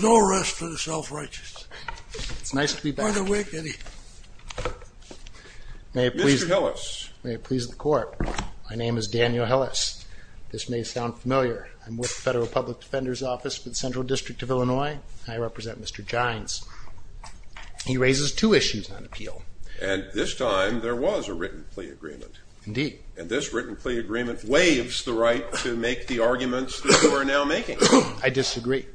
No arrest for the self-righteous. It's nice to be back. Mr. Hillis. May it please the court, my name is Daniel Hillis. This may sound familiar. I'm with the Federal Public Defender's Office for the Central District of Illinois. I represent Mr. Jines. He raises two issues on appeal. And this time there was a written plea agreement. Indeed. And this written plea agreement waives the right to make the arguments that you are now making. I disagree.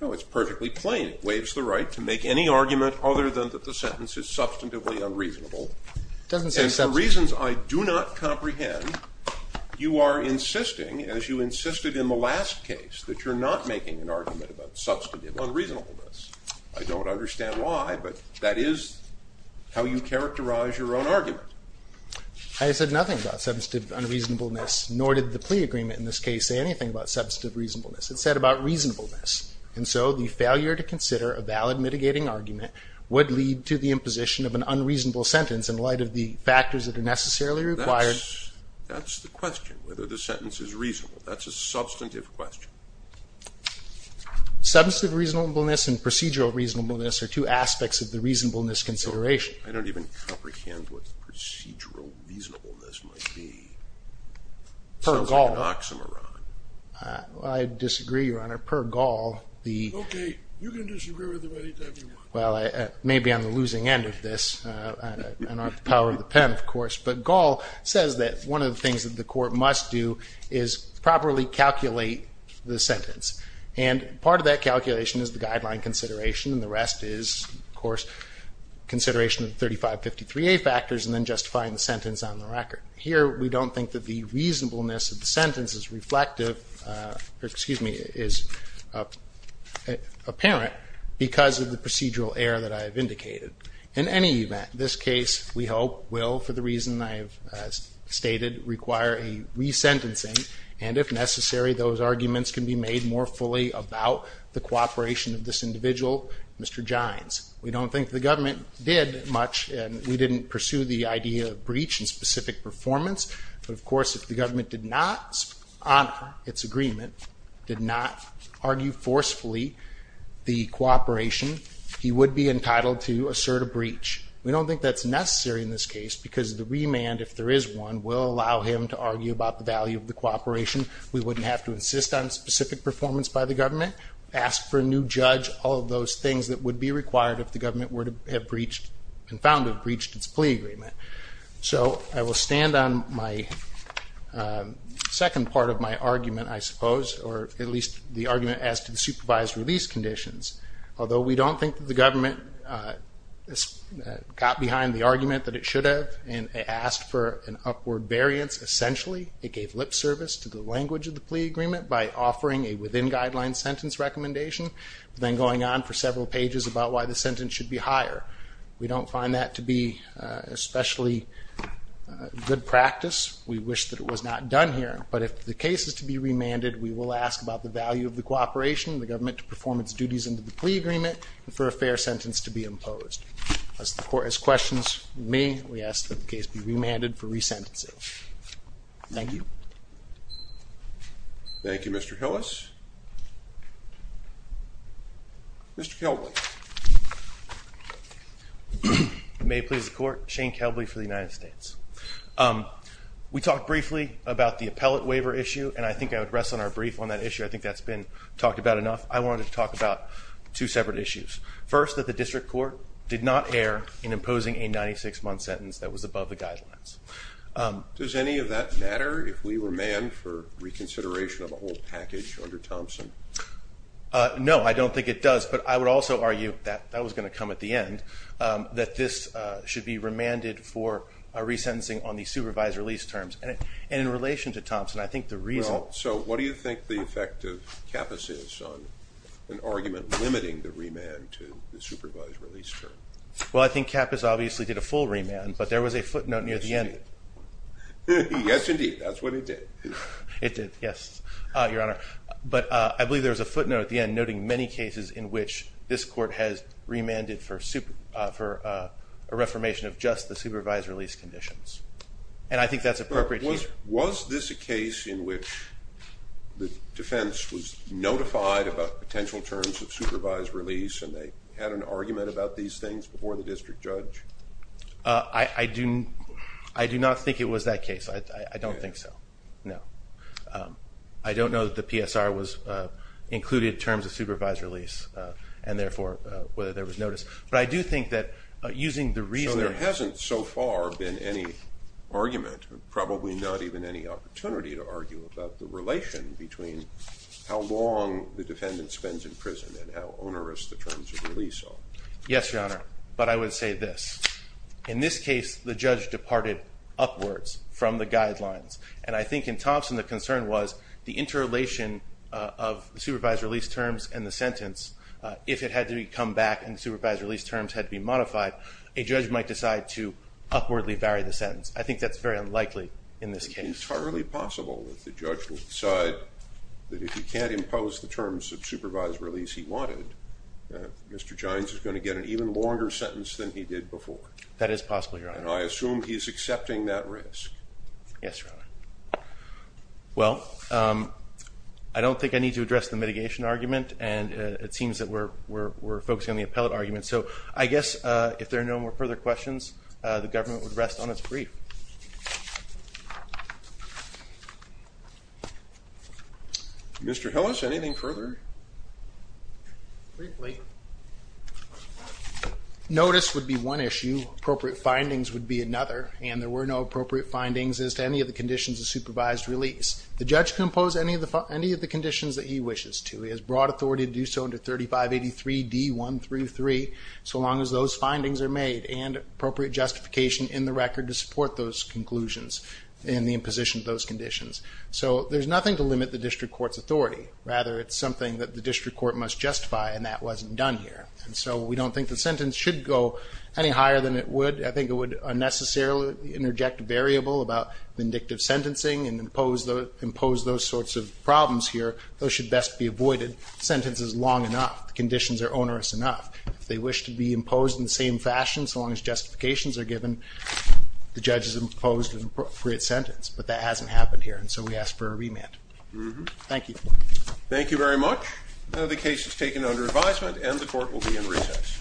No, it's perfectly plain. It waives the right to make any argument other than that the sentence is substantively unreasonable. It doesn't say substantive. And for reasons I do not comprehend, you are insisting, as you insisted in the last case, that you're not making an argument about substantive unreasonableness. I don't understand why, but that is how you characterize your own argument. I said nothing about substantive unreasonableness, nor did the plea agreement in this case say anything about substantive reasonableness. It said about reasonableness. And so the failure to consider a valid mitigating argument would lead to the imposition of an unreasonable sentence in light of the factors that are necessarily required. That's the question, whether the sentence is reasonable. That's a substantive question. Substantive reasonableness and procedural reasonableness are two aspects of the reasonableness consideration. I don't even comprehend what procedural reasonableness might be. Per Gall. It sounds like an oxymoron. I disagree, Your Honor. Per Gall, the ---- Okay. You can disagree with him any time you want. Well, maybe on the losing end of this. I don't have the power of the pen, of course. But Gall says that one of the things that the court must do is properly calculate the sentence. And part of that calculation is the guideline consideration, and the rest is, of course, consideration of the 3553A factors and then justifying the sentence on the record. Here we don't think that the reasonableness of the sentence is reflective or, excuse me, is apparent because of the procedural error that I have indicated. In any event, this case, we hope, will, for the reason I have stated, require a resentencing. And if necessary, those arguments can be made more fully about the cooperation of this individual, Mr. Gines. We don't think the government did much, and we didn't pursue the idea of breach in specific performance. But, of course, if the government did not honor its agreement, did not argue forcefully the cooperation, he would be entitled to assert a breach. We don't think that's necessary in this case because the remand, if there is one, will allow him to argue about the value of the cooperation. We wouldn't have to insist on specific performance by the government, ask for a new judge, all of those things that would be required if the government were to have breached and found to have breached its plea agreement. So I will stand on my second part of my argument, I suppose, or at least the argument as to the supervised release conditions. Although we don't think that the government got behind the argument that it should have and asked for an upward variance, essentially it gave lip service to the language of the plea agreement by offering a within-guideline sentence recommendation, then going on for several pages about why the sentence should be higher. We don't find that to be especially good practice. We wish that it was not done here. But if the case is to be remanded, we will ask about the value of the cooperation, the government to perform its duties under the plea agreement, and for a fair sentence to be imposed. Unless the court has questions, we may ask that the case be remanded for resentencing. Thank you. Thank you, Mr. Hillis. Mr. Kelbley. If it may please the Court, Shane Kelbley for the United States. We talked briefly about the appellate waiver issue, and I think I would rest on our brief on that issue. I think that's been talked about enough. I wanted to talk about two separate issues. First, that the district court did not err in imposing a 96-month sentence that was above the guidelines. Does any of that matter if we remand for reconsideration of a whole package under Thompson? No, I don't think it does. But I would also argue that that was going to come at the end, that this should be remanded for a resentencing on the supervised release terms. And in relation to Thompson, I think the reason – So what do you think the effect of Kappus is on an argument limiting the remand to the supervised release term? Well, I think Kappus obviously did a full remand, but there was a footnote near the end. Yes, indeed. That's what it did. It did, yes, Your Honor. But I believe there was a footnote at the end noting many cases in which this court has remanded for a reformation of just the supervised release conditions. And I think that's appropriate here. Was this a case in which the defense was notified about potential terms of supervised release and they had an argument about these things before the district judge? I do not think it was that case. I don't think so, no. I don't know that the PSR included terms of supervised release and, therefore, whether there was notice. But I do think that using the reasoning – argument, probably not even any opportunity to argue about the relation between how long the defendant spends in prison and how onerous the terms of release are. Yes, Your Honor, but I would say this. In this case, the judge departed upwards from the guidelines. And I think in Thompson, the concern was the interrelation of the supervised release terms and the sentence. If it had to come back and the supervised release terms had to be modified, a judge might decide to upwardly vary the sentence. I think that's very unlikely in this case. It's entirely possible that the judge will decide that if he can't impose the terms of supervised release he wanted, Mr. Gines is going to get an even longer sentence than he did before. That is possible, Your Honor. And I assume he's accepting that risk. Yes, Your Honor. Well, I don't think I need to address the mitigation argument. And it seems that we're focusing on the appellate argument. So I guess if there are no further questions, the government would rest on its brief. Mr. Hillis, anything further? Briefly. Notice would be one issue. Appropriate findings would be another. And there were no appropriate findings as to any of the conditions of supervised release. The judge can impose any of the conditions that he wishes to. He has broad authority to do so under 3583D1 through 3, so long as those findings are made and appropriate justification in the record to support those conclusions in the imposition of those conditions. So there's nothing to limit the district court's authority. Rather, it's something that the district court must justify, and that wasn't done here. And so we don't think the sentence should go any higher than it would. I think it would unnecessarily interject a variable about vindictive sentencing and impose those sorts of problems here. Those should best be avoided. Sentence is long enough. The conditions are onerous enough. If they wish to be imposed in the same fashion, so long as justifications are given, the judge has imposed an appropriate sentence. But that hasn't happened here, and so we ask for a remand. Thank you. Thank you very much. The case is taken under advisement, and the court will be in recess. Thank you.